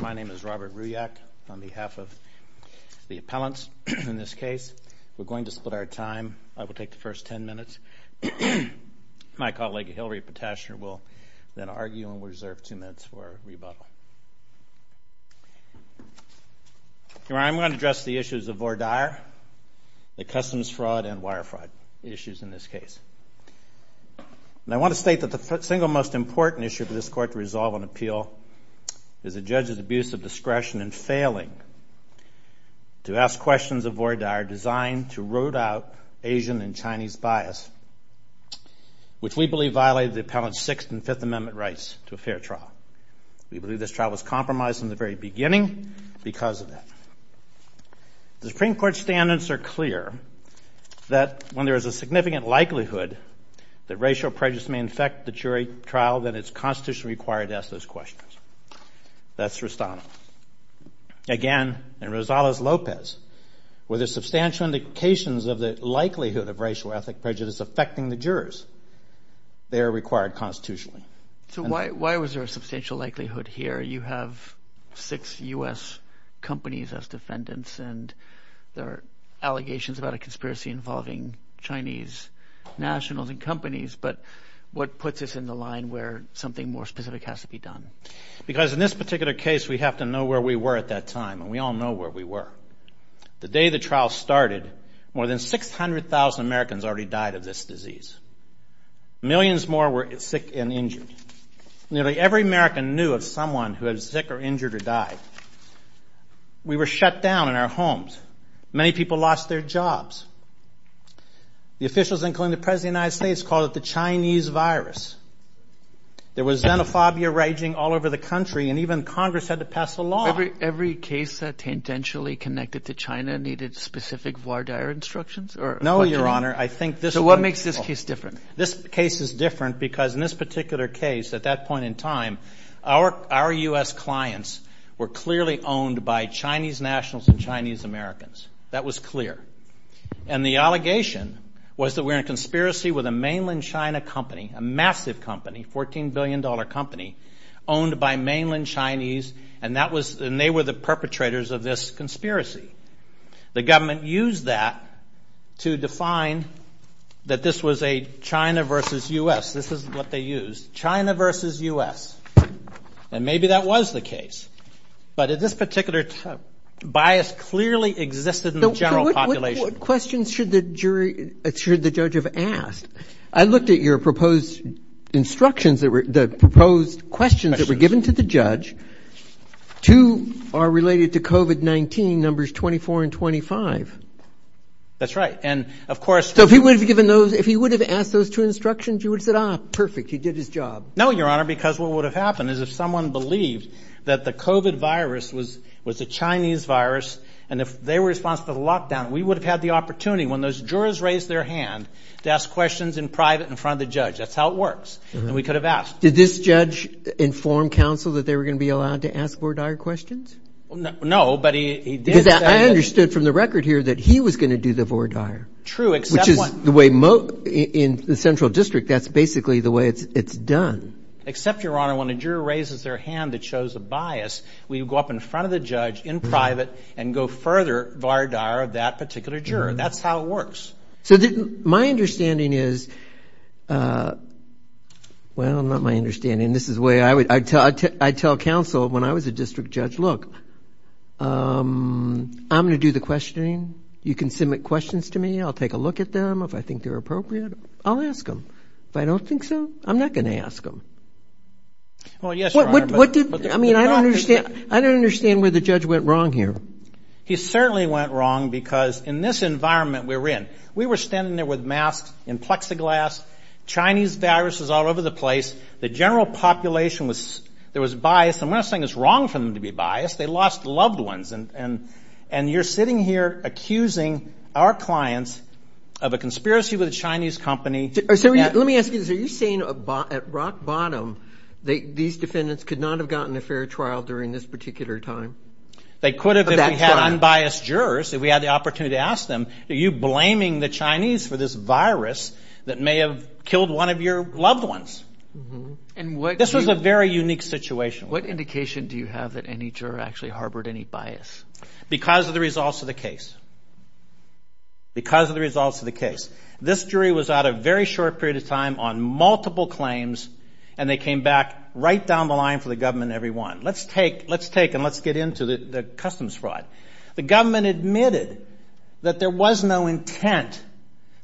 My name is Robert Ruyak. On behalf of the appellants in this case, we're going to split our time. I will take the first ten minutes. My colleague, Hillary Potashner, will then argue and we'll reserve two minutes for rebuttal. I'm going to address the issues of VORDAR, the customs fraud and wire fraud issues in this case. I want to state that the single most important issue for this court to resolve an appeal is a judge's abuse of discretion in failing to ask questions of VORDAR designed to root out Asian and Chinese bias, which we believe violated the appellant's Sixth and Fifth Amendment rights to a fair trial. We believe this trial was compromised in the very beginning because of that. The Supreme Court's standards are clear that when there is a significant likelihood that racial prejudice may affect the jury trial, then it's constitutionally required to ask those questions. That's Restano. Again, in Rosales-Lopez, where there are substantial indications of the likelihood of racial ethnic prejudice affecting the jurors, they are required constitutionally. So why was there a substantial likelihood here? You have six U.S. companies as defendants and there are allegations about a conspiracy involving Chinese nationals and companies, but what puts us in the line where something more specific has to be done? Because in this particular case, we have to know where we were at that time, and we all know where we were. The day the trial started, more than 600,000 Americans already died of this disease. Millions more were sick and injured. Nearly every American knew of someone who was sick or injured or died. We were shut down in our homes. Many people lost their jobs. The officials, including the President of the United States, called it the Chinese virus. There was xenophobia raging all over the country, and even Congress had to pass a law. Every case that's intentionally connected to China needed specific voir dire instructions? No, Your Honor. So what makes this case different? This case is different because in this particular case, at that point in time, our U.S. clients were clearly owned by Chinese nationals and Chinese Americans. That was clear. And the allegation was that we're in a conspiracy with a mainland China company, a massive company, $14 billion company, owned by mainland Chinese, and they were the perpetrators of this conspiracy. The government used that to define that this was a China versus U.S. This is what they used, China versus U.S., and maybe that was the case. But this particular bias clearly existed in the general population. So what questions should the jury – should the judge have asked? I looked at your proposed instructions that were – the proposed questions that were given to the judge. Two are related to COVID-19, numbers 24 and 25. That's right, and of course – So if he would have given those – if he would have asked those two instructions, you would have said, ah, perfect, he did his job. No, Your Honor, because what would have happened is if someone believed that the COVID virus was a Chinese virus, and if they were responsible for the lockdown, we would have had the opportunity when those jurors raised their hand to ask questions in private in front of the judge. That's how it works, and we could have asked. Did this judge inform counsel that they were going to be allowed to ask Vordaer questions? No, but he did – Because I understood from the record here that he was going to do the Vordaer. True, except one. In the central district, that's basically the way it's done. Except, Your Honor, when a juror raises their hand that shows a bias, we would go up in front of the judge in private and go further Vordaer of that particular juror. That's how it works. So my understanding is – well, not my understanding. This is the way I would – I'd tell counsel when I was a district judge, look, I'm going to do the questioning. You can submit questions to me. I'll take a look at them if I think they're appropriate. I'll ask them. If I don't think so, I'm not going to ask them. Well, yes, Your Honor. I mean, I don't understand where the judge went wrong here. He certainly went wrong because in this environment we were in, we were standing there with masks and plexiglass, Chinese viruses all over the place. The general population was – there was bias, and we're not saying it's wrong for them to be biased. They lost loved ones, and you're sitting here accusing our clients of a conspiracy with a Chinese company. Let me ask you this. Are you saying at rock bottom these defendants could not have gotten a fair trial during this particular time? They could have if we had unbiased jurors, if we had the opportunity to ask them, are you blaming the Chinese for this virus that may have killed one of your loved ones? This was a very unique situation. What indication do you have that any juror actually harbored any bias? Because of the results of the case. Because of the results of the case. This jury was out a very short period of time on multiple claims, and they came back right down the line for the government every one. Let's take and let's get into the customs fraud. The government admitted that there was no intent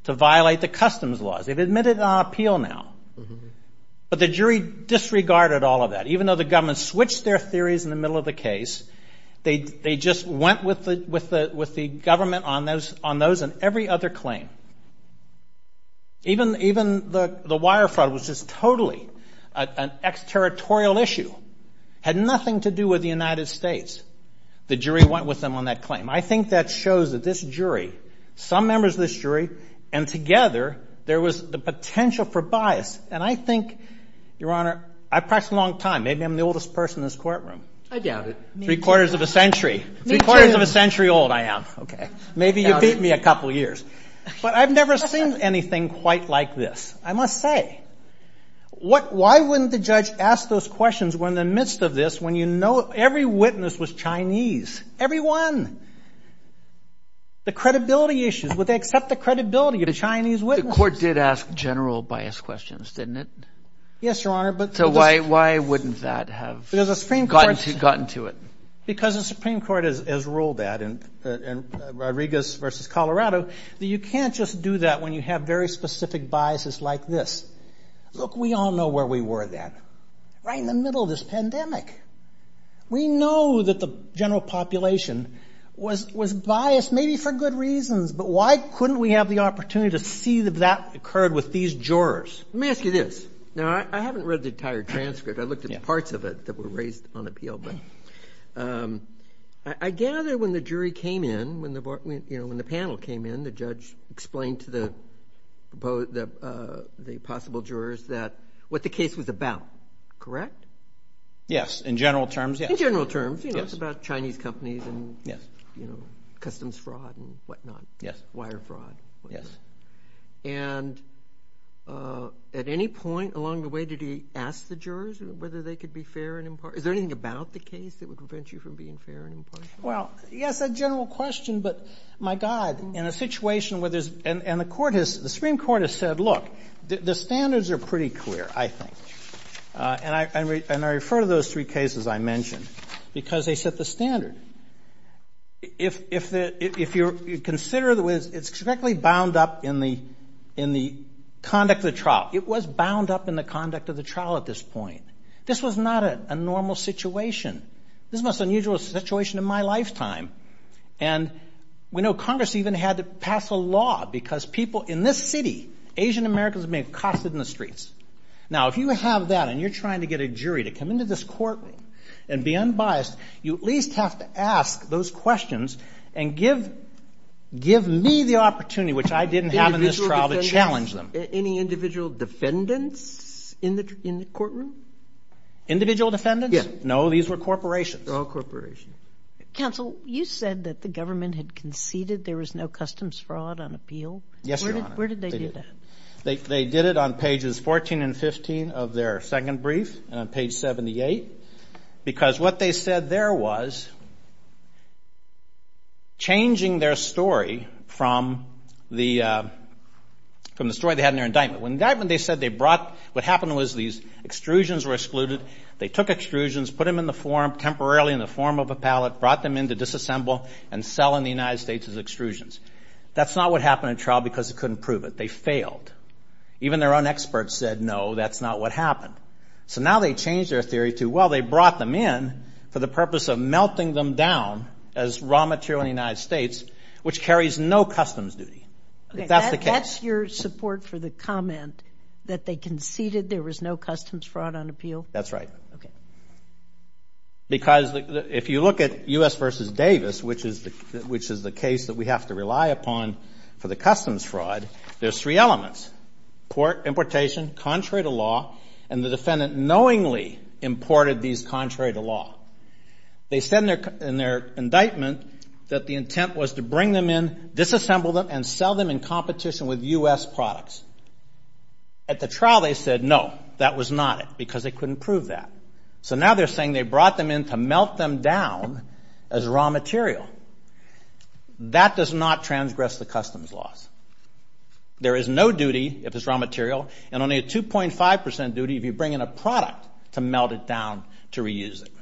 to violate the customs laws. They've admitted it on appeal now. But the jury disregarded all of that. Even though the government switched their theories in the middle of the case, they just went with the government on those and every other claim. Even the wire fraud was just totally an exterritorial issue. It had nothing to do with the United States. The jury went with them on that claim. I think that shows that this jury, some members of this jury, and together there was the potential for bias. And I think, Your Honor, I've practiced a long time. Maybe I'm the oldest person in this courtroom. I doubt it. Three quarters of a century. Three quarters of a century old I am. Maybe you beat me a couple years. But I've never seen anything quite like this. I must say, why wouldn't the judge ask those questions when in the midst of this when you know every witness was Chinese? Everyone. The credibility issues. Would they accept the credibility of the Chinese witnesses? The court did ask general bias questions, didn't it? Yes, Your Honor. So why wouldn't that have gotten to it? Because the Supreme Court has ruled that in Rodriguez v. Colorado, that you can't just do that when you have very specific biases like this. Look, we all know where we were then. Right in the middle of this pandemic. We know that the general population was biased maybe for good reasons, but why couldn't we have the opportunity to see that that occurred with these jurors? Let me ask you this. Now, I haven't read the entire transcript. I looked at the parts of it that were raised on appeal. But I gather when the jury came in, when the panel came in, the judge explained to the possible jurors what the case was about, correct? Yes, in general terms, yes. In general terms. Because, you know, it's about Chinese companies and, you know, customs fraud and whatnot, wire fraud. And at any point along the way, did he ask the jurors whether they could be fair and impartial? Is there anything about the case that would prevent you from being fair and impartial? Well, yes, a general question. But, my God, in a situation where there's – and the Supreme Court has said, look, the standards are pretty clear, I think. And I refer to those three cases I mentioned because they set the standard. If you consider the ways it's directly bound up in the conduct of the trial. It was bound up in the conduct of the trial at this point. This was not a normal situation. This was the most unusual situation in my lifetime. And we know Congress even had to pass a law because people in this city, Asian Americans, have been accosted in the streets. Now, if you have that and you're trying to get a jury to come into this courtroom and be unbiased, you at least have to ask those questions and give me the opportunity, which I didn't have in this trial, to challenge them. Any individual defendants in the courtroom? Individual defendants? Yes. No, these were corporations. They're all corporations. Counsel, you said that the government had conceded there was no customs fraud on appeal. Yes, Your Honor. Where did they do that? They did it on pages 14 and 15 of their second brief and on page 78. Because what they said there was changing their story from the story they had in their indictment. In their indictment, they said they brought what happened was these extrusions were excluded. They took extrusions, put them in the form, temporarily in the form of a pallet, brought them in to disassemble and sell in the United States as extrusions. That's not what happened in trial because they couldn't prove it. They failed. Even their own experts said, no, that's not what happened. So now they changed their theory to, well, they brought them in for the purpose of melting them down as raw material in the United States, which carries no customs duty. That's the case. That's your support for the comment that they conceded there was no customs fraud on appeal? That's right. Okay. Because if you look at U.S. v. Davis, which is the case that we have to rely upon for the customs fraud, there's three elements. Importation, contrary to law, and the defendant knowingly imported these contrary to law. They said in their indictment that the intent was to bring them in, disassemble them, and sell them in competition with U.S. products. At the trial, they said, no, that was not it because they couldn't prove that. So now they're saying they brought them in to melt them down as raw material. That does not transgress the customs laws. There is no duty, if it's raw material, and only a 2.5 percent duty if you bring in a product to melt it down to reuse it.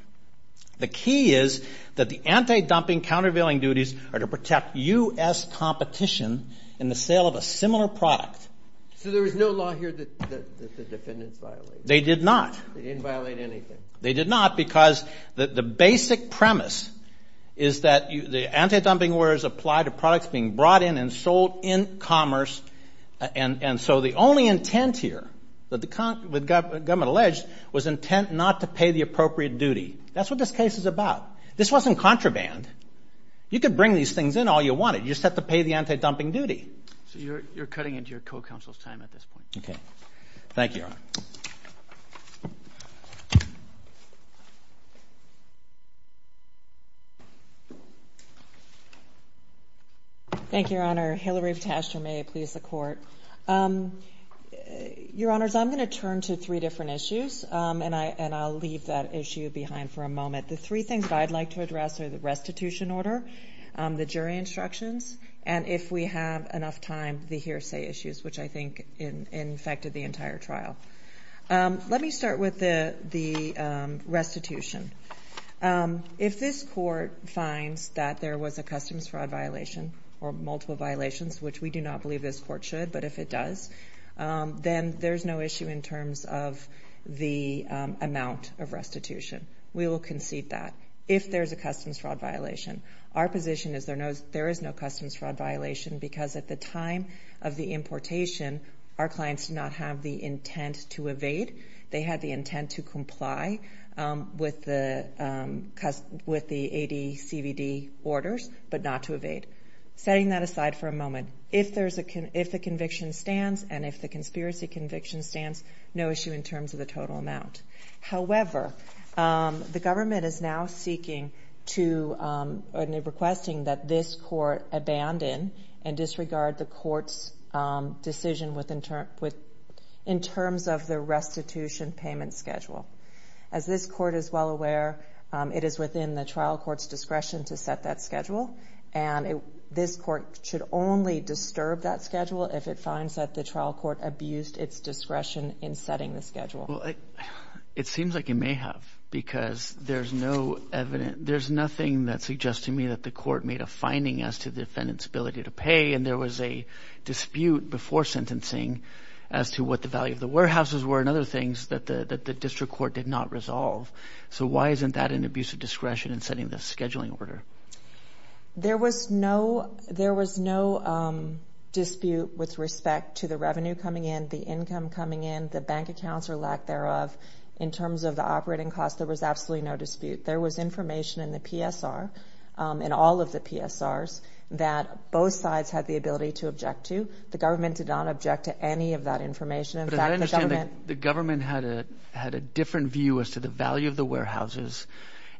The key is that the anti-dumping, countervailing duties are to protect U.S. competition in the sale of a similar product. So there was no law here that the defendants violated? They did not. They didn't violate anything. They did not because the basic premise is that the anti-dumping orders apply to products being brought in and sold in commerce, and so the only intent here that the government alleged was intent not to pay the appropriate duty. That's what this case is about. This wasn't contraband. You could bring these things in all you wanted. You just have to pay the anti-dumping duty. So you're cutting into your co-counsel's time at this point. Okay. Thank you, Your Honor. Thank you, Your Honor. Hillary Taster, may it please the Court. Your Honors, I'm going to turn to three different issues, and I'll leave that issue behind for a moment. The three things that I'd like to address are the restitution order, the jury instructions, and if we have enough time, the hearsay issues, which I think infected the entire trial. Let me start with the restitution. If this Court finds that there was a customs fraud violation or multiple violations, which we do not believe this Court should, but if it does, then there's no issue in terms of the amount of restitution. We will concede that if there's a customs fraud violation. Our position is there is no customs fraud violation because at the time of the importation, our clients did not have the intent to evade. They had the intent to comply with the ADCVD orders, but not to evade. Setting that aside for a moment, if the conviction stands and if the conspiracy conviction stands, no issue in terms of the total amount. However, the government is now requesting that this Court abandon and disregard the Court's decision in terms of the restitution payment schedule. As this Court is well aware, it is within the trial court's discretion to set that schedule, and this Court should only disturb that schedule if it finds that the trial court abused its discretion in setting the schedule. It seems like it may have because there's nothing that suggests to me that the Court made a finding as to the defendant's ability to pay, and there was a dispute before sentencing as to what the value of the warehouses were and other things that the district court did not resolve. So why isn't that an abuse of discretion in setting the scheduling order? There was no dispute with respect to the revenue coming in, the income coming in, the bank accounts or lack thereof. In terms of the operating costs, there was absolutely no dispute. There was information in the PSR, in all of the PSRs, that both sides had the ability to object to. The government did not object to any of that information. But I understand the government had a different view as to the value of the warehouses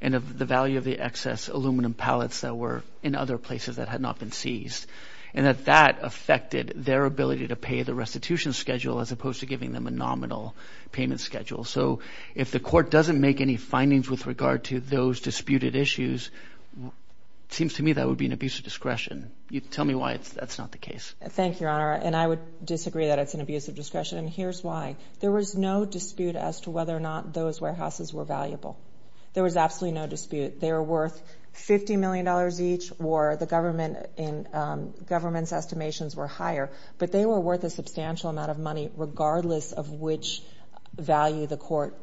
and of the value of the excess aluminum pallets that were in other places that had not been seized, and that that affected their ability to pay the restitution schedule as opposed to giving them a nominal payment schedule. So if the Court doesn't make any findings with regard to those disputed issues, it seems to me that would be an abuse of discretion. Tell me why that's not the case. Thank you, Your Honor, and I would disagree that it's an abuse of discretion, and here's why. There was no dispute as to whether or not those warehouses were valuable. There was absolutely no dispute. They were worth $50 million each, or the government's estimations were higher, but they were worth a substantial amount of money regardless of which value the Court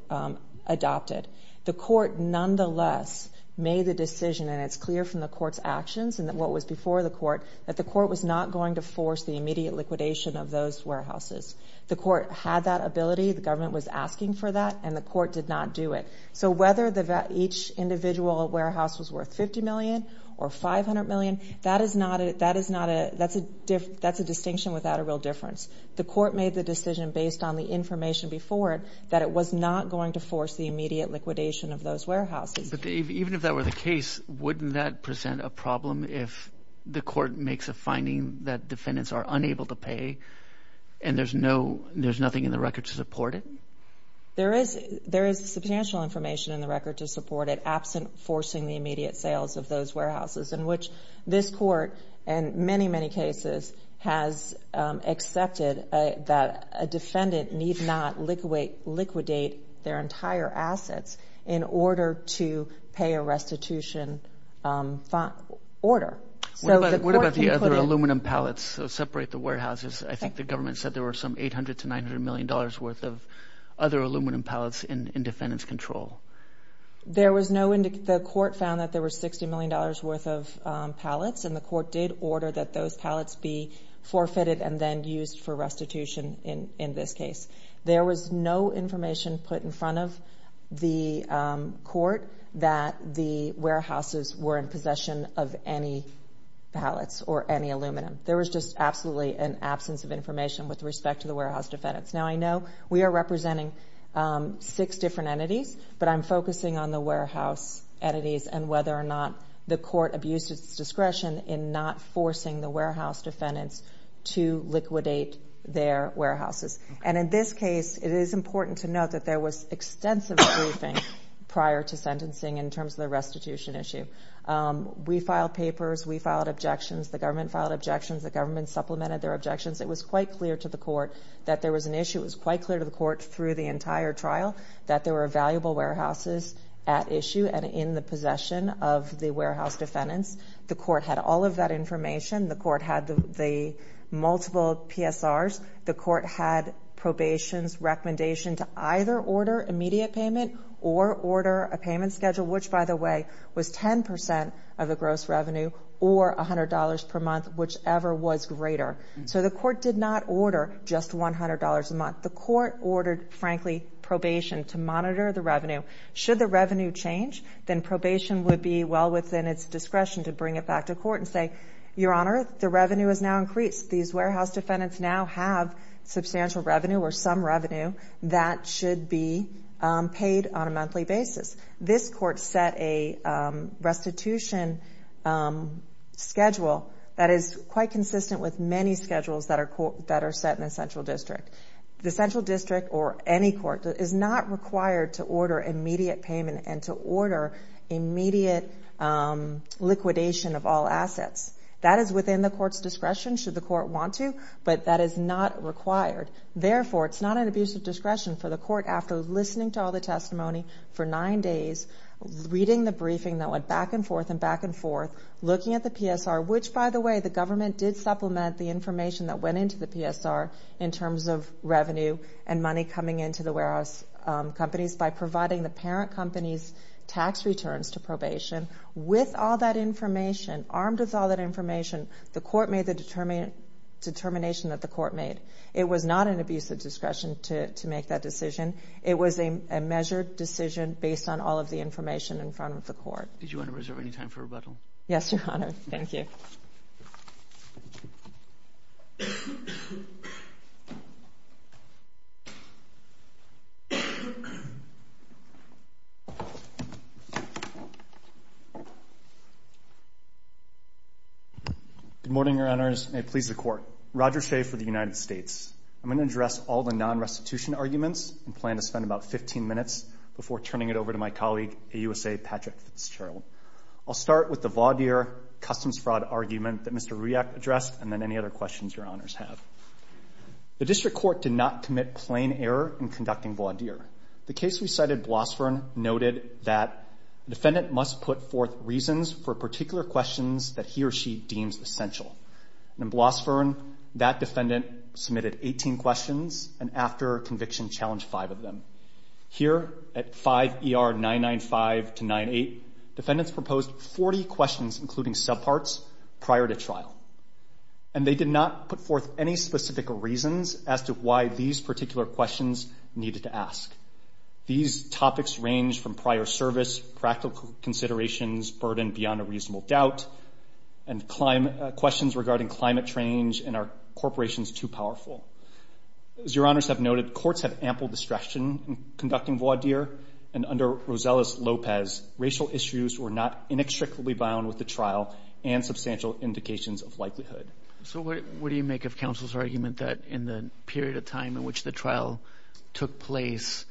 adopted. The Court nonetheless made the decision, and it's clear from the Court's actions and what was before the Court, that the Court was not going to force the immediate liquidation of those warehouses. The Court had that ability. The government was asking for that, and the Court did not do it. So whether each individual warehouse was worth $50 million or $500 million, that's a distinction without a real difference. The Court made the decision based on the information before it that it was not going to force the immediate liquidation of those warehouses. But even if that were the case, wouldn't that present a problem if the Court makes a finding that defendants are unable to pay and there's nothing in the record to support it? There is substantial information in the record to support it absent forcing the immediate sales of those warehouses, in which this Court, in many, many cases, has accepted that a defendant need not liquidate their entire assets in order to pay a restitution order. What about the other aluminum pallets that separate the warehouses? I think the government said there were some $800 million to $900 million worth of other aluminum pallets in defendant's control. The Court found that there were $60 million worth of pallets, and the Court did order that those pallets be forfeited and then used for restitution in this case. There was no information put in front of the Court that the warehouses were in possession of any pallets or any aluminum. There was just absolutely an absence of information with respect to the warehouse defendants. Now, I know we are representing six different entities, but I'm focusing on the warehouse entities and whether or not the Court abused its discretion in not forcing the warehouse defendants to liquidate their warehouses. And in this case, it is important to note that there was extensive briefing prior to sentencing in terms of the restitution issue. We filed papers. We filed objections. The government filed objections. The government supplemented their objections. It was quite clear to the Court that there was an issue. It was quite clear to the Court through the entire trial that there were valuable warehouses at issue and in the possession of the warehouse defendants. The Court had all of that information. The Court had the multiple PSRs. The Court had probation's recommendation to either order immediate payment or order a payment schedule, which, by the way, was 10% of the gross revenue or $100 per month, whichever was greater. So the Court did not order just $100 a month. The Court ordered, frankly, probation to monitor the revenue. Should the revenue change, then probation would be well within its discretion to bring it back to Court and say, Your Honor, the revenue has now increased. These warehouse defendants now have substantial revenue or some revenue that should be paid on a monthly basis. This Court set a restitution schedule that is quite consistent with many schedules that are set in a central district. The central district or any court is not required to order immediate payment and to order immediate liquidation of all assets. That is within the Court's discretion. Should the Court want to, but that is not required. Therefore, it's not an abuse of discretion for the Court, after listening to all the testimony for nine days, reading the briefing that went back and forth and back and forth, looking at the PSR, which, by the way, the government did supplement the information that went into the PSR in terms of revenue and money coming into the warehouse companies by providing the parent company's tax returns to probation. With all that information, armed with all that information, the Court made the determination that the Court made. It was not an abuse of discretion to make that decision. It was a measured decision based on all of the information in front of the Court. Did you want to reserve any time for rebuttal? Yes, Your Honor. Thank you. Good morning, Your Honors. May it please the Court. Roger Shea for the United States. I'm going to address all the non-restitution arguments and plan to spend about 15 minutes before turning it over to my colleague, AUSA Patrick Fitzgerald. I'll start with the Vaudier customs fraud argument that Mr. Rujak addressed and then any other questions Your Honors have. The District Court did not commit plain error in conducting Vaudier. The case we cited, Blossvern, noted that the defendant must put forth reasons for particular questions that he or she deems essential. In Blossvern, that defendant submitted 18 questions and after conviction challenged five of them. Here at 5 ER 995 to 98, defendants proposed 40 questions, including subparts, prior to trial. And they did not put forth any specific reasons as to why these particular questions needed to ask. These topics range from prior service, practical considerations, burden beyond a reasonable doubt, and questions regarding climate change and are corporations too powerful. As Your Honors have noted, courts have ample discretion in conducting Vaudier and under Rosales Lopez, racial issues were not inextricably bound with the trial and substantial indications of likelihood. So what do you make of counsel's argument that in the period of time in which the trial took place,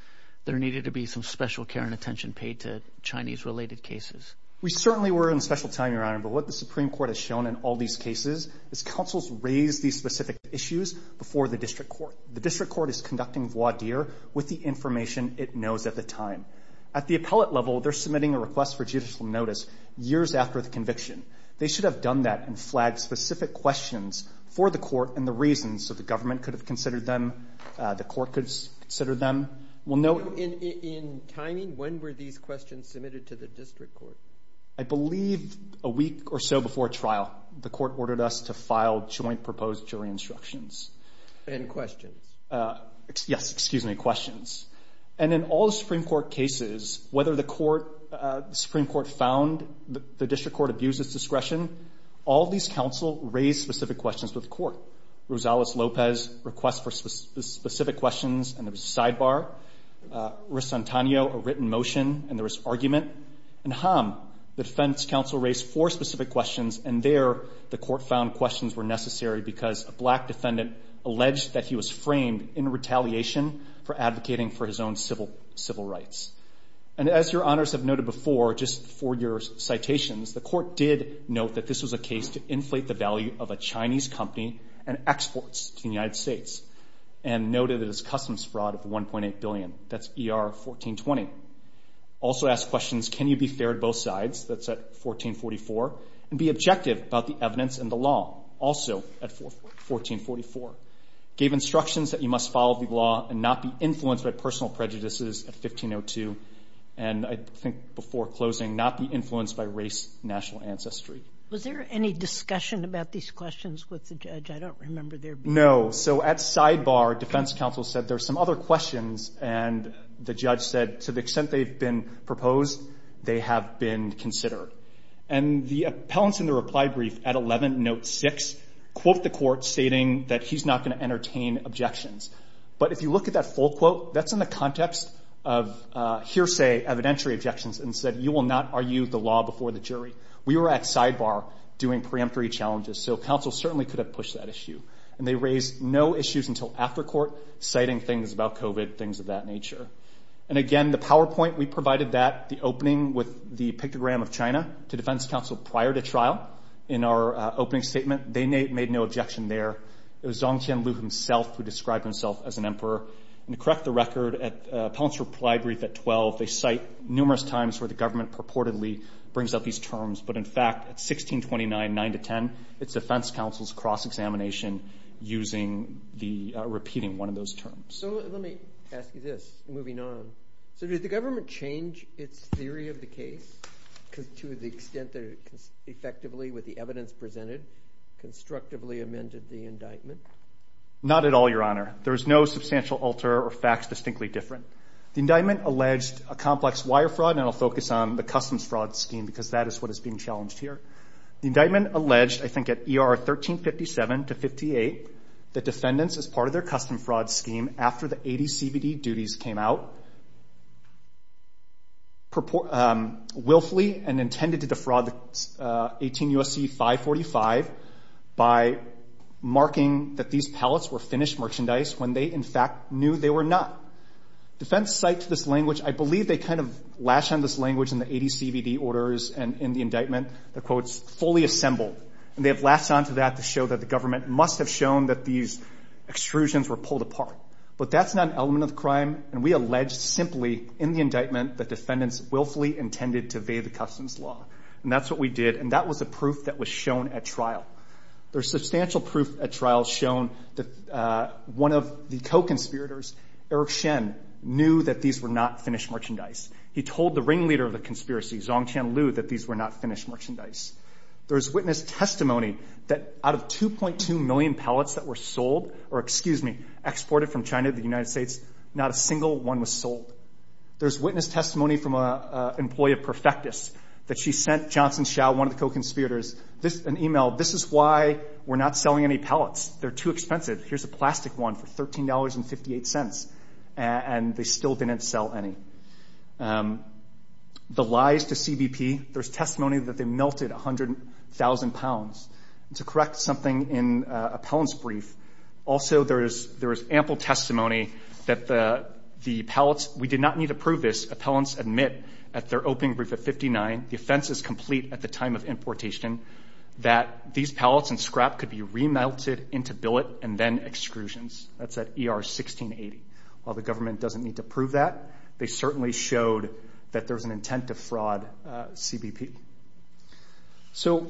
there needed to be some special care and attention paid to Chinese-related cases? We certainly were in special time, Your Honor, but what the Supreme Court has shown in all these cases is counsel's raised these specific issues before the district court. The district court is conducting Vaudier with the information it knows at the time. At the appellate level, they're submitting a request for judicial notice years after the conviction. They should have done that and flagged specific questions for the court and the reasons so the government could have considered them, the court could consider them. We'll note... In timing, when were these questions submitted to the district court? I believe a week or so before trial. The court ordered us to file joint proposed jury instructions. And questions. Yes, excuse me, questions. And in all the Supreme Court cases, whether the Supreme Court found the district court abused its discretion, all these counsel raised specific questions with the court. Rosales Lopez requests for specific questions and there was a sidebar. Ressantanio, a written motion and there was argument. And Ham, the defense counsel raised four specific questions and there the court found questions were necessary because a black defendant alleged that he was framed in retaliation for advocating for his own civil rights. And as your honors have noted before, just for your citations, the court did note that this was a case to inflate the value of a Chinese company and exports to the United States and noted it as customs fraud of 1.8 billion. That's ER 1420. Also asked questions, can you be fair at both sides? That's at 1444. And be objective about the evidence and the law. Also at 1444. Gave instructions that you must follow the law and not be influenced by personal prejudices at 1502. And I think before closing, not be influenced by race, national ancestry. Was there any discussion about these questions with the judge? I don't remember there being one. No, so at sidebar, defense counsel said there's some other questions and the judge said to the extent they've been proposed, they have been considered. And the appellants in the reply brief at 11 note 6 quote the court stating that he's not going to entertain objections. But if you look at that full quote, that's in the context of hearsay evidentiary objections and said you will not argue the law before the jury. We were at sidebar doing preemptory challenges, so counsel certainly could have pushed that issue. And they raised no issues until after court, citing things about COVID, things of that nature. And again, the PowerPoint, we provided that, the opening with the pictogram of China to defense counsel prior to trial. In our opening statement, they made no objection there. It was Zong Tianlu himself who described himself as an emperor. And to correct the record, appellants reply brief at 12, they cite numerous times where the government purportedly brings up these terms. But in fact, at 1629, 9 to 10, it's defense counsel's cross-examination using the repeating one of those terms. So let me ask you this, moving on. So did the government change its theory of the case to the extent that it effectively, with the evidence presented, constructively amended the indictment? Not at all, Your Honor. There is no substantial alter or facts distinctly different. The indictment alleged a complex wire fraud, and I'll focus on the customs fraud scheme because that is what is being challenged here. The indictment alleged, I think at ER 1357 to 58, that defendants, as part of their customs fraud scheme, after the 80CVD duties came out, willfully and intended to defraud the 18 U.S.C. 545 by marking that these pallets were finished merchandise when they, in fact, knew they were not. Defense cited this language. I believe they kind of lash on this language in the 80CVD orders and in the indictment that, quote, is fully assembled, and they have lashed on to that to show that the government must have shown that these extrusions were pulled apart. But that's not an element of the crime, and we alleged simply in the indictment that defendants willfully intended to evade the customs law. And that's what we did, and that was the proof that was shown at trial. There's substantial proof at trial shown that one of the co-conspirators, Eric Shen, knew that these were not finished merchandise. He told the ringleader of the conspiracy, Zhang Tianlu, that these were not finished merchandise. There's witness testimony that out of 2.2 million pallets that were sold or, excuse me, exported from China to the United States, not a single one was sold. There's witness testimony from an employee of Perfectus that she sent Johnson Xiao, one of the co-conspirators, an email, this is why we're not selling any pallets. They're too expensive. Here's a plastic one for $13.58, and they still didn't sell any. The lies to CBP, there's testimony that they melted 100,000 pounds. To correct something in appellant's brief, also there is ample testimony that the pallets, we did not need to prove this, appellants admit at their opening brief at 59, the offense is complete at the time of importation, that these pallets and scrap could be remelted into billet and then excrusions. That's at ER 1680. While the government doesn't need to prove that, they certainly showed that there's an intent to fraud CBP. So,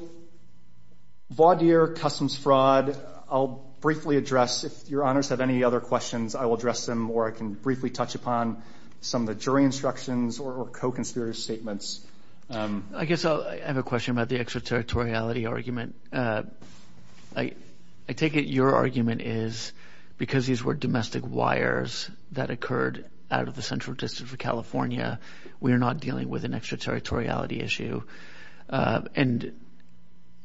Vaudier customs fraud, I'll briefly address. If your honors have any other questions, I will address them, or I can briefly touch upon some of the jury instructions or co-conspirator statements. I guess I have a question about the extraterritoriality argument. I take it your argument is because these were domestic wires that occurred out of the central district of California, we are not dealing with an extraterritoriality issue. And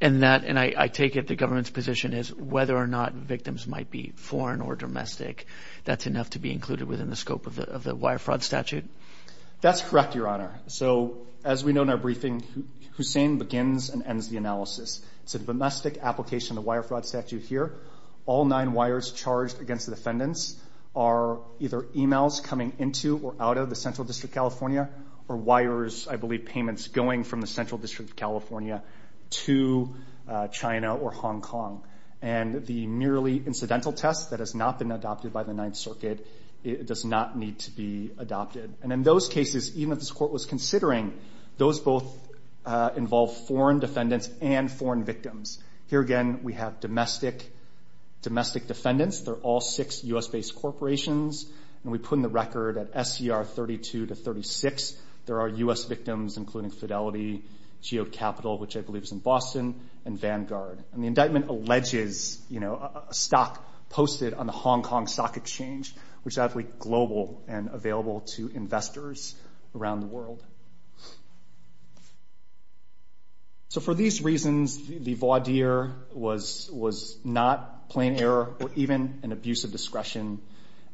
I take it the government's position is whether or not victims might be foreign or domestic, that's enough to be included within the scope of the wire fraud statute? That's correct, your honor. So, as we know in our briefing, Hussain begins and ends the analysis. It's a domestic application of wire fraud statute here. All nine wires charged against the defendants are either emails coming into or out of the central district of California, or wires, I believe, payments going from the central district of California to China or Hong Kong. And the merely incidental test that has not been adopted by the Ninth Circuit does not need to be adopted. And in those cases, even if this court was considering, those both involve foreign defendants and foreign victims. Here again, we have domestic defendants. They're all six U.S.-based corporations, and we put in the record at SCR 32 to 36, there are U.S. victims including Fidelity, Geode Capital, which I believe is in Boston, and Vanguard. And the indictment alleges a stock posted on the Hong Kong Stock Exchange, which is actually global and available to investors around the world. So for these reasons, the voir dire was not plain error or even an abuse of discretion,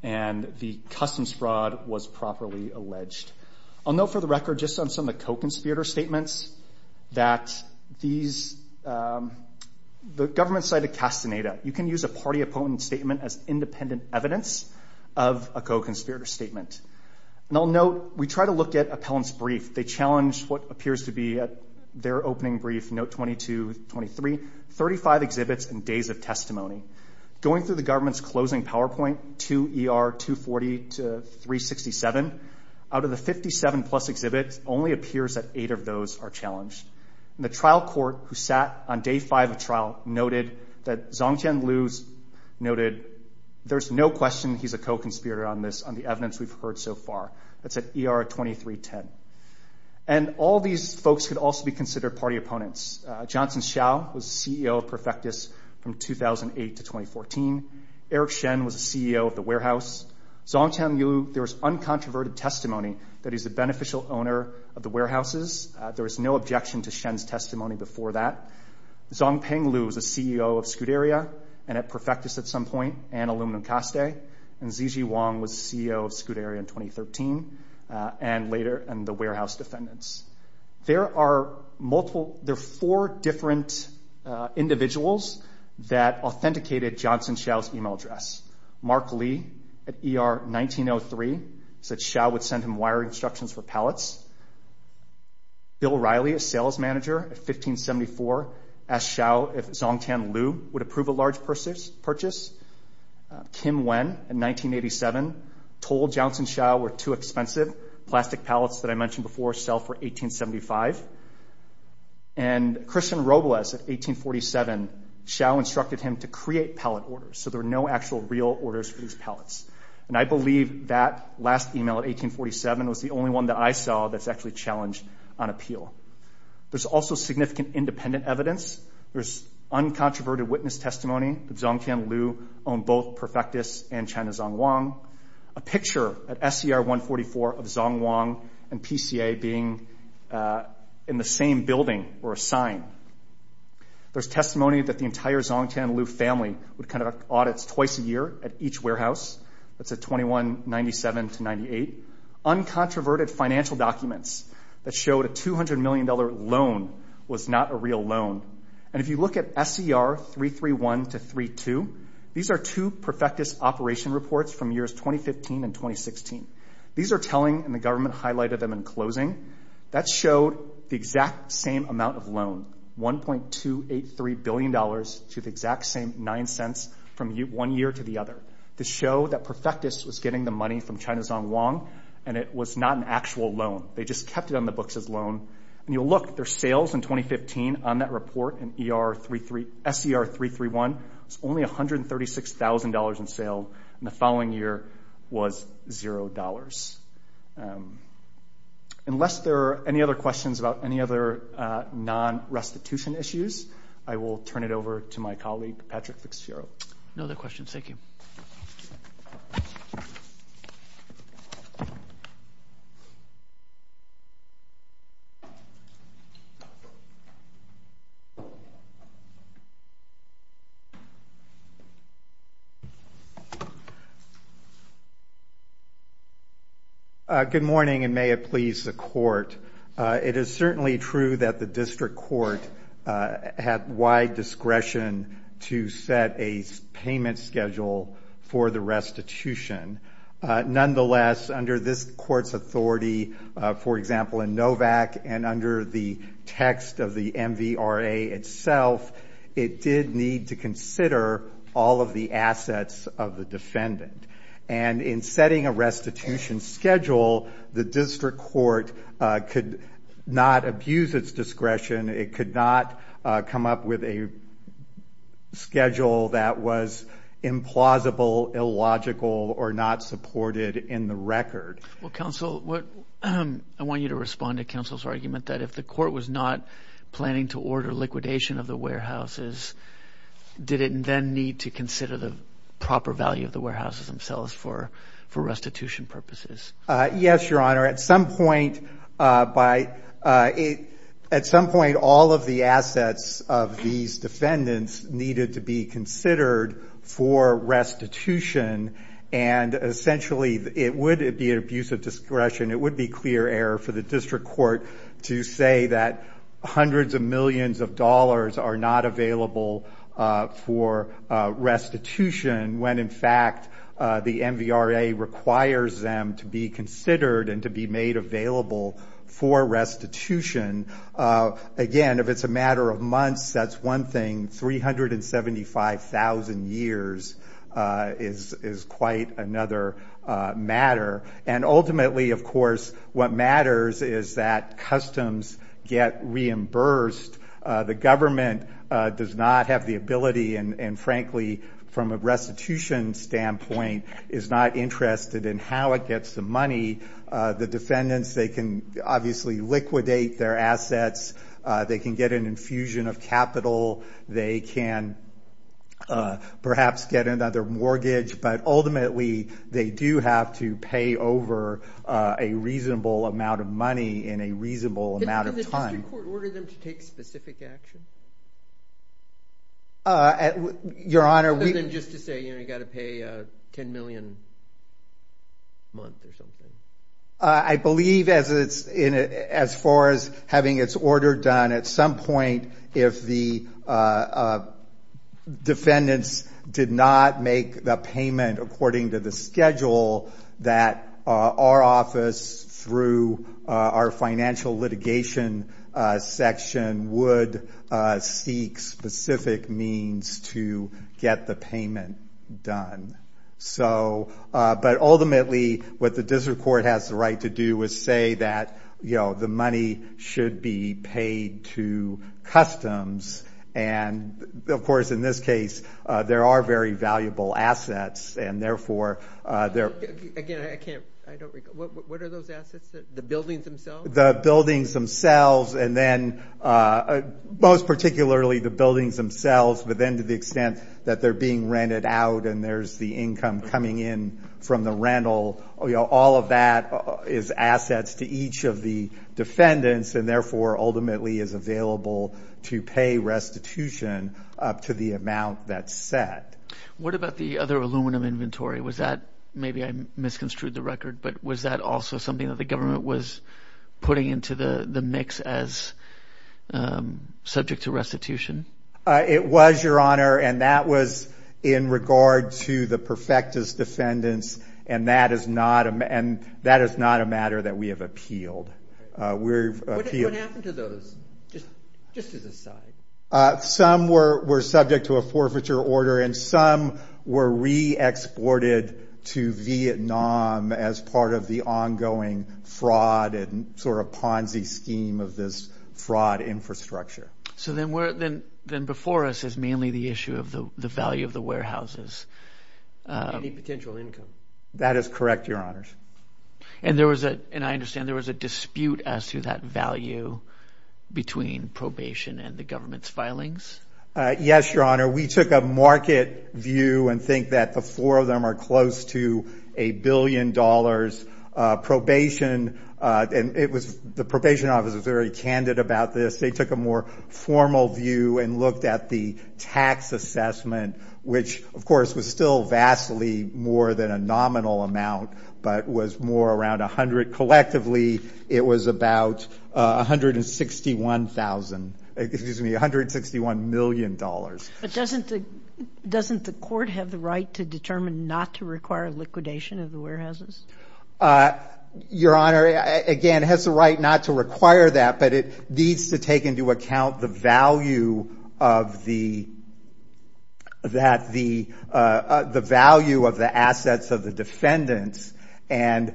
and the customs fraud was properly alleged. I'll note for the record just on some of the co-conspirator statements that the government cited castaneda. You can use a party opponent statement as independent evidence of a co-conspirator statement. And I'll note we try to look at appellants' brief. They challenge what appears to be at their opening brief, note 22, 23, 35 exhibits and days of testimony. Going through the government's closing PowerPoint, 2 ER 240 to 367, out of the 57-plus exhibits, only appears that eight of those are challenged. And the trial court who sat on day five of trial noted that Zongtian Liu's noted, there's no question he's a co-conspirator on this, on the evidence we've heard so far. That's at ER 2310. And all these folks could also be considered party opponents. Johnson Hsiao was CEO of Perfectus from 2008 to 2014. Eric Shen was the CEO of the warehouse. Zongtian Liu, there was uncontroverted testimony that he's the beneficial owner of the warehouses. There was no objection to Shen's testimony before that. Zongtian Liu was the CEO of Scuderia, and at Perfectus at some point, and Aluminum Caste. And Zijie Wang was the CEO of Scuderia in 2013, and later the warehouse defendants. There are four different individuals that authenticated Johnson Hsiao's email address. Mark Lee at ER 1903 said Hsiao would send him wiring instructions for pallets. Bill Riley, a sales manager at 1574, asked Hsiao if Zongtian Liu would approve a large purchase. Kim Wen in 1987 told Johnson Hsiao were too expensive. Plastic pallets that I mentioned before sell for $18.75. And Christian Robles at 1847, Hsiao instructed him to create pallet orders so there were no actual real orders for these pallets. And I believe that last email at 1847 was the only one that I saw that's actually challenged on appeal. There's also significant independent evidence. There's uncontroverted witness testimony that Zongtian Liu owned both Perfectus and China Zongwang. A picture at SCR 144 of Zongwang and PCA being in the same building were a sign. There's testimony that the entire Zongtian Liu family would conduct audits twice a year at each warehouse. That's at 2197-98. Uncontroverted financial documents that showed a $200 million loan was not a real loan. And if you look at SCR 331-32, these are two Perfectus operation reports from years 2015 and 2016. These are telling, and the government highlighted them in closing. That showed the exact same amount of loan, $1.283 billion, to the exact same $0.09 from one year to the other. To show that Perfectus was getting the money from China Zongwang and it was not an actual loan. They just kept it on the books as loan. And you'll look, their sales in 2015 on that report in SCR 331 was only $136,000 in sale, and the following year was $0. Unless there are any other questions about any other non-restitution issues, I will turn it over to my colleague, Patrick Ficciaro. No other questions. Thank you. Good morning, and may it please the Court. It is certainly true that the district court had wide discretion to set a payment schedule for the restitution. Nonetheless, under this court's authority, for example, in NOVAC and under the text of the MVRA itself, it did need to consider all of the assets of the defendant. And in setting a restitution schedule, the district court could not abuse its discretion. It could not come up with a schedule that was implausible, illogical, or not supported in the record. Well, counsel, I want you to respond to counsel's argument that if the court was not planning to order liquidation of the warehouses, did it then need to consider the proper value of the warehouses themselves for restitution purposes? Yes, Your Honor. At some point, all of the assets of these defendants needed to be considered for restitution, and essentially it would be an abuse of discretion. It would be clear error for the district court to say that hundreds of millions of dollars are not available for restitution when, in fact, the MVRA requires them to be considered and to be made available for restitution. Again, if it's a matter of months, that's one thing. 375,000 years is quite another matter. And ultimately, of course, what matters is that customs get reimbursed. The government does not have the ability and, frankly, from a restitution standpoint is not interested in how it gets the money. The defendants, they can obviously liquidate their assets. They can get an infusion of capital. They can perhaps get another mortgage. But ultimately, they do have to pay over a reasonable amount of money in a reasonable amount of time. Did the district court order them to take specific action? Just to say, you know, you've got to pay $10 million a month or something. I believe as far as having its order done, at some point, if the defendants did not make the payment according to the schedule, that our office, through our financial litigation section, would seek specific means to get the payment done. But ultimately, what the district court has the right to do is say that, you know, the money should be paid to customs. And, of course, in this case, there are very valuable assets. And, therefore, there are. Again, I can't. I don't recall. What are those assets? The buildings themselves? The buildings themselves and then most particularly the buildings themselves, but then to the extent that they're being rented out and there's the income coming in from the rental. You know, all of that is assets to each of the defendants and, therefore, ultimately is available to pay restitution up to the amount that's set. What about the other aluminum inventory? Was that maybe I misconstrued the record, but was that also something that the government was putting into the mix as subject to restitution? It was, Your Honor, and that was in regard to the perfectus defendants and that is not a matter that we have appealed. What happened to those, just as an aside? Some were subject to a forfeiture order and some were re-exported to Vietnam as part of the ongoing fraud and sort of Ponzi scheme of this fraud infrastructure. So then before us is mainly the issue of the value of the warehouses. Any potential income? That is correct, Your Honors. And I understand there was a dispute as to that value between probation and the government's filings? Yes, Your Honor. We took a market view and think that the four of them are close to a billion dollars probation and the probation office was very candid about this. They took a more formal view and looked at the tax assessment, which, of course, was still vastly more than a nominal amount, but was more around 100 collectively. It was about $161 million. But doesn't the court have the right to determine not to require liquidation of the warehouses? Your Honor, again, it has the right not to require that, but it needs to take into account the value of the assets of the defendants and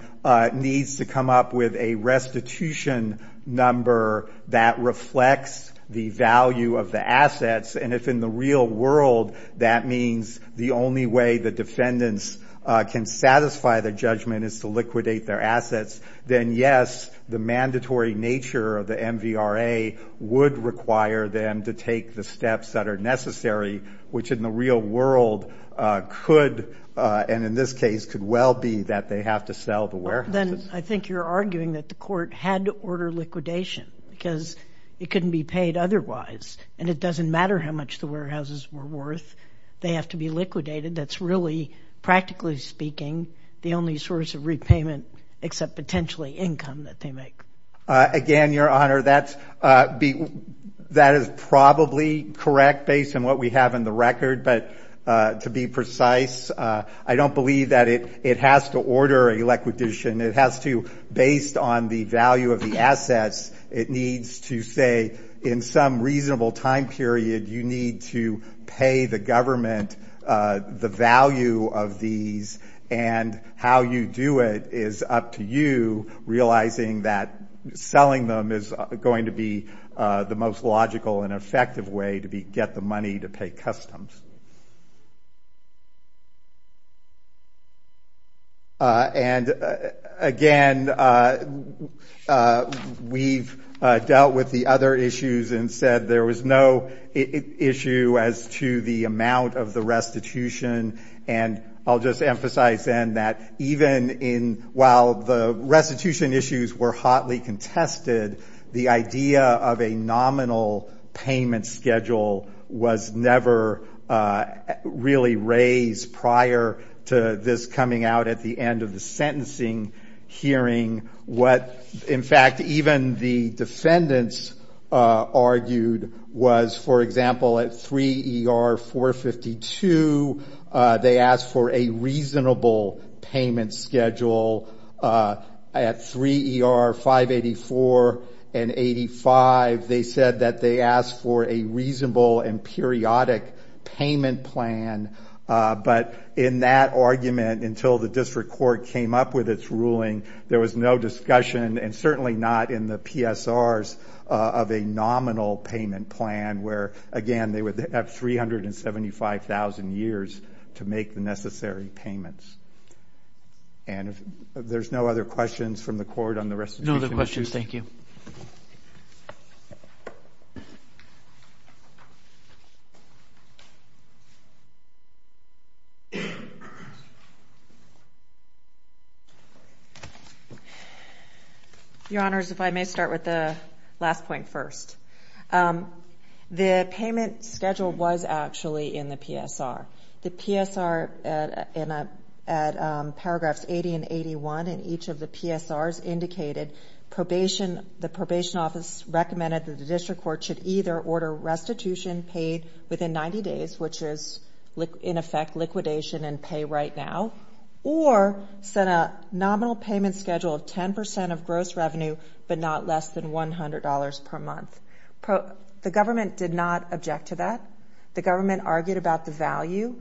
needs to come up with a restitution number that reflects the value of the assets. And if in the real world that means the only way the defendants can satisfy their judgment is to liquidate their assets, then, yes, the mandatory nature of the MVRA would require them to take the steps that are necessary, which in the real world could, and in this case could well be, that they have to sell the warehouses. Then I think you're arguing that the court had to order liquidation because it couldn't be paid otherwise, and it doesn't matter how much the warehouses were worth. They have to be liquidated. That's really, practically speaking, the only source of repayment except potentially income that they make. Again, Your Honor, that is probably correct based on what we have in the record. But to be precise, I don't believe that it has to order a liquidation. It has to, based on the value of the assets, it needs to say in some reasonable time period you need to pay the government the value of these and how you do it is up to you realizing that selling them is going to be the most logical and effective way to get the money to pay customs. And again, we've dealt with the other issues and said there was no issue as to the amount of the restitution, and I'll just emphasize then that even while the restitution issues were hotly contested, the idea of a nominal payment schedule was never really raised prior to this coming out at the end of the sentencing hearing. In fact, even the defendants argued was, for example, at 3 ER 452, they asked for a reasonable payment schedule. At 3 ER 584 and 85, they said that they asked for a reasonable and periodic payment plan, but in that argument until the district court came up with its ruling, there was no discussion and certainly not in the PSRs of a nominal payment plan where, again, they would have 375,000 years to make the necessary payments. And there's no other questions from the court on the restitution? No other questions. Thank you. Your Honors, if I may start with the last point first. The payment schedule was actually in the PSR. The PSR at paragraphs 80 and 81 in each of the PSRs indicated probation, the probation office recommended that the district court should either order restitution paid within 90 days, which is in effect liquidation and pay right now, or set a nominal payment schedule of 10% of gross revenue but not less than $100 per month. The government did not object to that. The government argued about the value,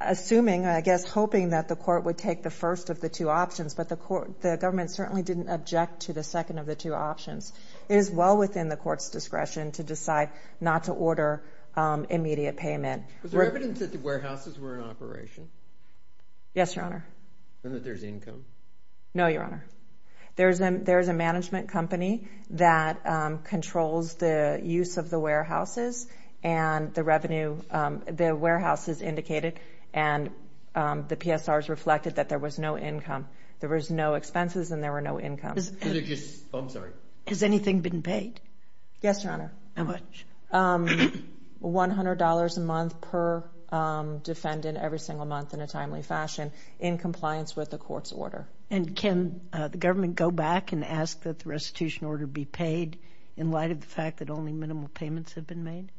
assuming, I guess, hoping that the court would take the first of the two options, but the government certainly didn't object to the second of the two options. It is well within the court's discretion to decide not to order immediate payment. Was there evidence that the warehouses were in operation? Yes, Your Honor. And that there's income? No, Your Honor. There is a management company that controls the use of the warehouses and the revenue. The warehouses indicated and the PSRs reflected that there was no income. There was no expenses and there were no incomes. Has anything been paid? Yes, Your Honor. How much? $100 a month per defendant every single month in a timely fashion in compliance with the court's order. And can the government go back and ask that the restitution order be paid in light of the fact that only minimal payments have been made?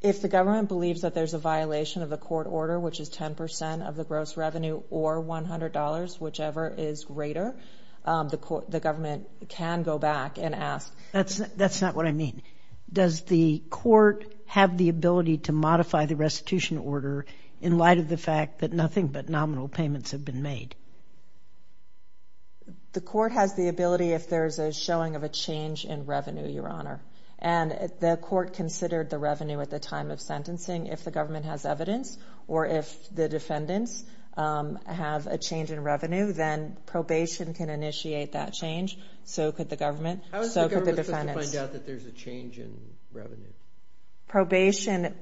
If the government believes that there's a violation of the court order, which is 10% of the gross revenue or $100, whichever is greater, the government can go back and ask. That's not what I mean. Does the court have the ability to modify the restitution order in light of the fact that nothing but nominal payments have been made? The court has the ability if there's a showing of a change in revenue, Your Honor. And the court considered the revenue at the time of sentencing. If the government has evidence or if the defendants have a change in revenue, then probation can initiate that change, so could the government, so could the defendants. How is the government supposed to find out that there's a change in revenue? Probation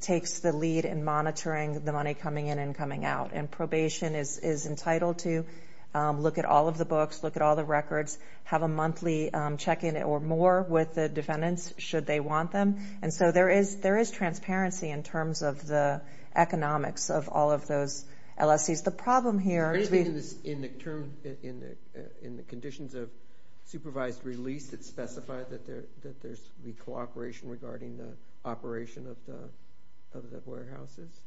takes the lead in monitoring the money coming in and coming out, and probation is entitled to look at all of the books, look at all the records, have a monthly check-in or more with the defendants should they want them. And so there is transparency in terms of the economics of all of those LSCs. The problem here is we— regarding the operation of the warehouses?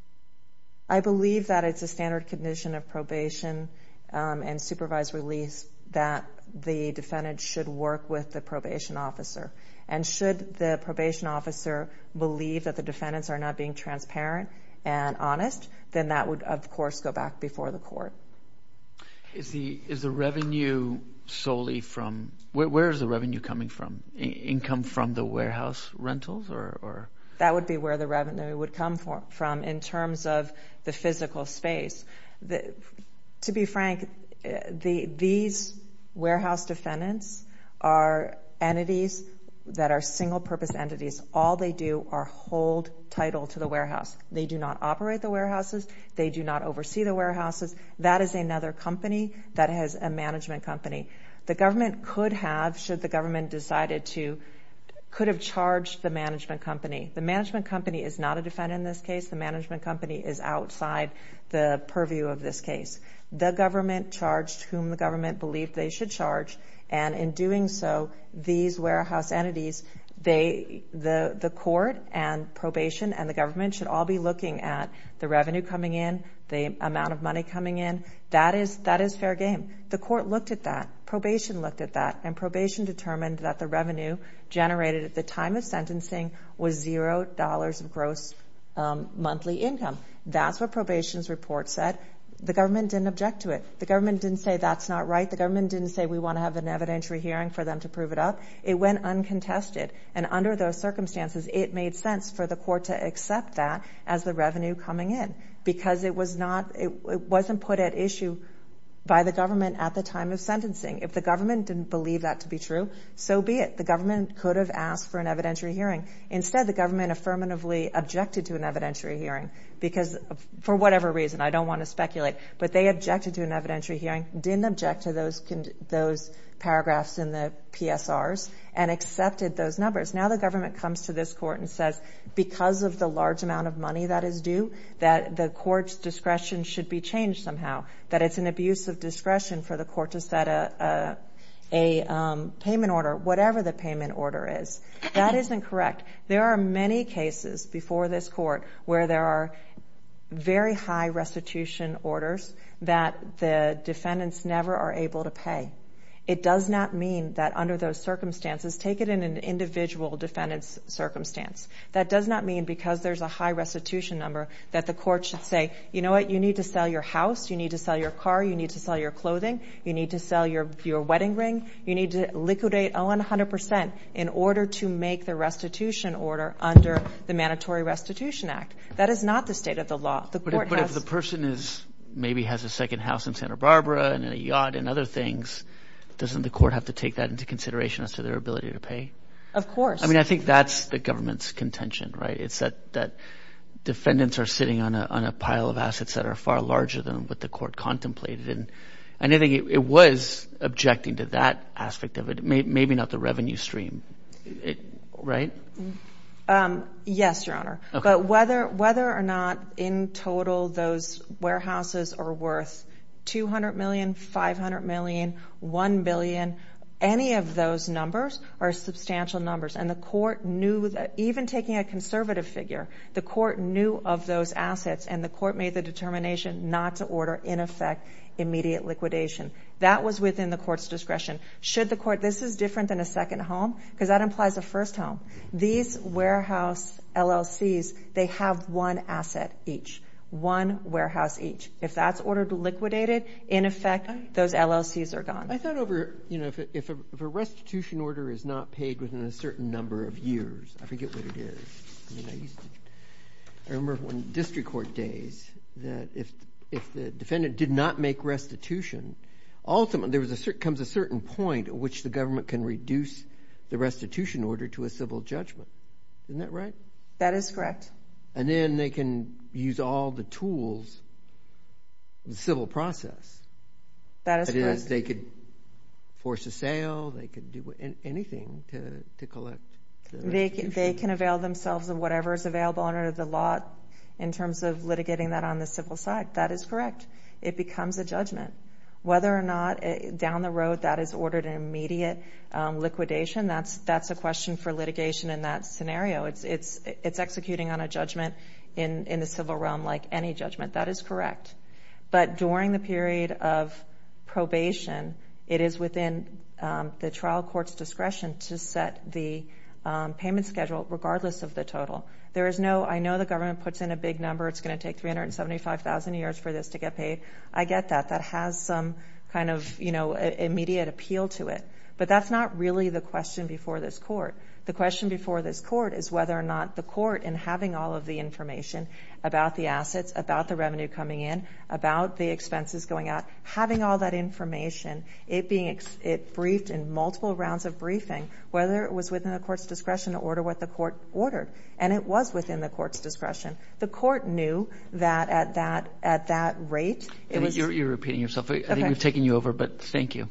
I believe that it's a standard condition of probation and supervised release that the defendant should work with the probation officer. And should the probation officer believe that the defendants are not being transparent and honest, then that would, of course, go back before the court. Is the revenue solely from—where is the revenue coming from? Income from the warehouse rentals or— That would be where the revenue would come from in terms of the physical space. To be frank, these warehouse defendants are entities that are single-purpose entities. All they do are hold title to the warehouse. They do not operate the warehouses. They do not oversee the warehouses. That is another company that has a management company. The government could have, should the government decided to, could have charged the management company. The management company is not a defendant in this case. The management company is outside the purview of this case. The government charged whom the government believed they should charge, and in doing so, these warehouse entities, the court and probation and the government should all be looking at the revenue coming in, the amount of money coming in. That is fair game. And the court looked at that, probation looked at that, and probation determined that the revenue generated at the time of sentencing was $0 of gross monthly income. That is what probation's report said. The government did not object to it. The government did not say that is not right. The government did not say we want to have an evidentiary hearing for them to prove it up. It went uncontested, and under those circumstances, it made sense for the court to accept that as the revenue coming in because it was not, it wasn't put at issue by the government at the time of sentencing. If the government didn't believe that to be true, so be it. The government could have asked for an evidentiary hearing. Instead, the government affirmatively objected to an evidentiary hearing because, for whatever reason, I don't want to speculate, but they objected to an evidentiary hearing, didn't object to those paragraphs in the PSRs, and accepted those numbers. Now the government comes to this court and says, because of the large amount of money that is due, that the court's discretion should be changed somehow, that it's an abuse of discretion for the court to set a payment order, whatever the payment order is. That isn't correct. There are many cases before this court where there are very high restitution orders that the defendants never are able to pay. It does not mean that under those circumstances, take it in an individual defendant's circumstance. That does not mean, because there's a high restitution number, that the court should say, you know what, you need to sell your house, you need to sell your car, you need to sell your clothing, you need to sell your wedding ring, you need to liquidate Owen 100% in order to make the restitution order under the Mandatory Restitution Act. That is not the state of the law. But if the person maybe has a second house in Santa Barbara and a yacht and other things, doesn't the court have to take that into consideration as to their ability to pay? Of course. I mean, I think that's the government's contention, right? It's that defendants are sitting on a pile of assets that are far larger than what the court contemplated. And I think it was objecting to that aspect of it, maybe not the revenue stream, right? Yes, Your Honor. But whether or not in total those warehouses are worth $200 million, $500 million, $1 billion, any of those numbers are substantial numbers. And the court knew that, even taking a conservative figure, the court knew of those assets, and the court made the determination not to order, in effect, immediate liquidation. That was within the court's discretion. This is different than a second home because that implies a first home. These warehouse LLCs, they have one asset each, one warehouse each. If that's ordered liquidated, in effect, those LLCs are gone. I thought over, you know, if a restitution order is not paid within a certain number of years, I forget what it is. I remember one of the district court days that if the defendant did not make restitution, ultimately there comes a certain point at which the government can reduce the restitution order to a civil judgment. Isn't that right? That is correct. And then they can use all the tools, the civil process. That is correct. They could force a sale. They could do anything to collect the restitution. They can avail themselves of whatever is available under the law in terms of litigating that on the civil side. That is correct. It becomes a judgment. Whether or not down the road that is ordered an immediate liquidation, that's a question for litigation in that scenario. It's executing on a judgment in the civil realm like any judgment. That is correct. But during the period of probation, it is within the trial court's discretion to set the payment schedule regardless of the total. I know the government puts in a big number. It's going to take 375,000 years for this to get paid. I get that. That has some kind of, you know, immediate appeal to it. But that's not really the question before this court. The question before this court is whether or not the court, in having all of the information about the assets, about the revenue coming in, about the expenses going out, having all that information, it being briefed in multiple rounds of briefing, whether it was within the court's discretion to order what the court ordered. And it was within the court's discretion. The court knew that at that rate. You're repeating yourself. I think we've taken you over, but thank you.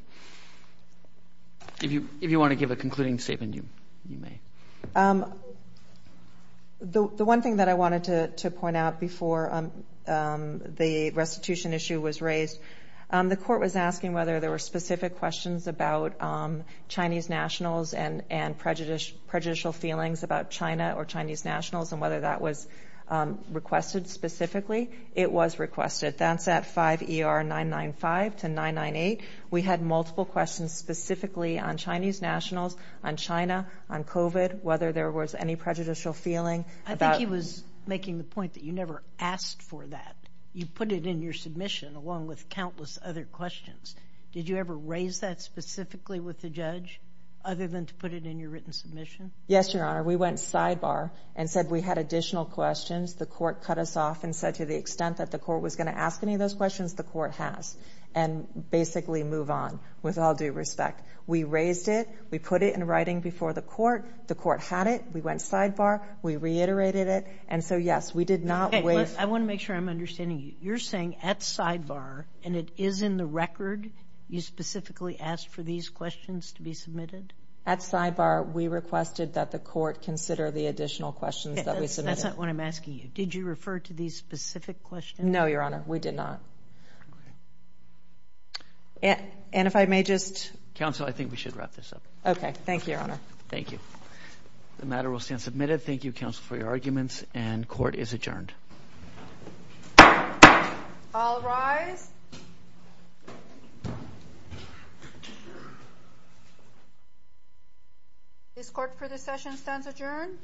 If you want to give a concluding statement, you may. The one thing that I wanted to point out before the restitution issue was raised, the court was asking whether there were specific questions about Chinese nationals and prejudicial feelings about China or Chinese nationals and whether that was requested specifically. It was requested. That's at 5 ER 995 to 998. We had multiple questions specifically on Chinese nationals, on China, on COVID, whether there was any prejudicial feeling. I think he was making the point that you never asked for that. You put it in your submission along with countless other questions. Did you ever raise that specifically with the judge other than to put it in your written submission? Yes, Your Honor. We went sidebar and said we had additional questions. The court cut us off and said to the extent that the court was going to ask any of those questions, the court has. And basically move on with all due respect. We raised it. We put it in writing before the court. The court had it. We went sidebar. We reiterated it. And so, yes, we did not wait. I want to make sure I'm understanding you. You're saying at sidebar, and it is in the record, you specifically asked for these questions to be submitted? At sidebar, we requested that the court consider the additional questions that we submitted. That's not what I'm asking you. Did you refer to these specific questions? No, Your Honor. We did not. And if I may just... Counsel, I think we should wrap this up. Okay. Thank you, Your Honor. Thank you. The matter will stand submitted. Thank you, counsel, for your arguments. And court is adjourned. All rise. This court for this session stands adjourned.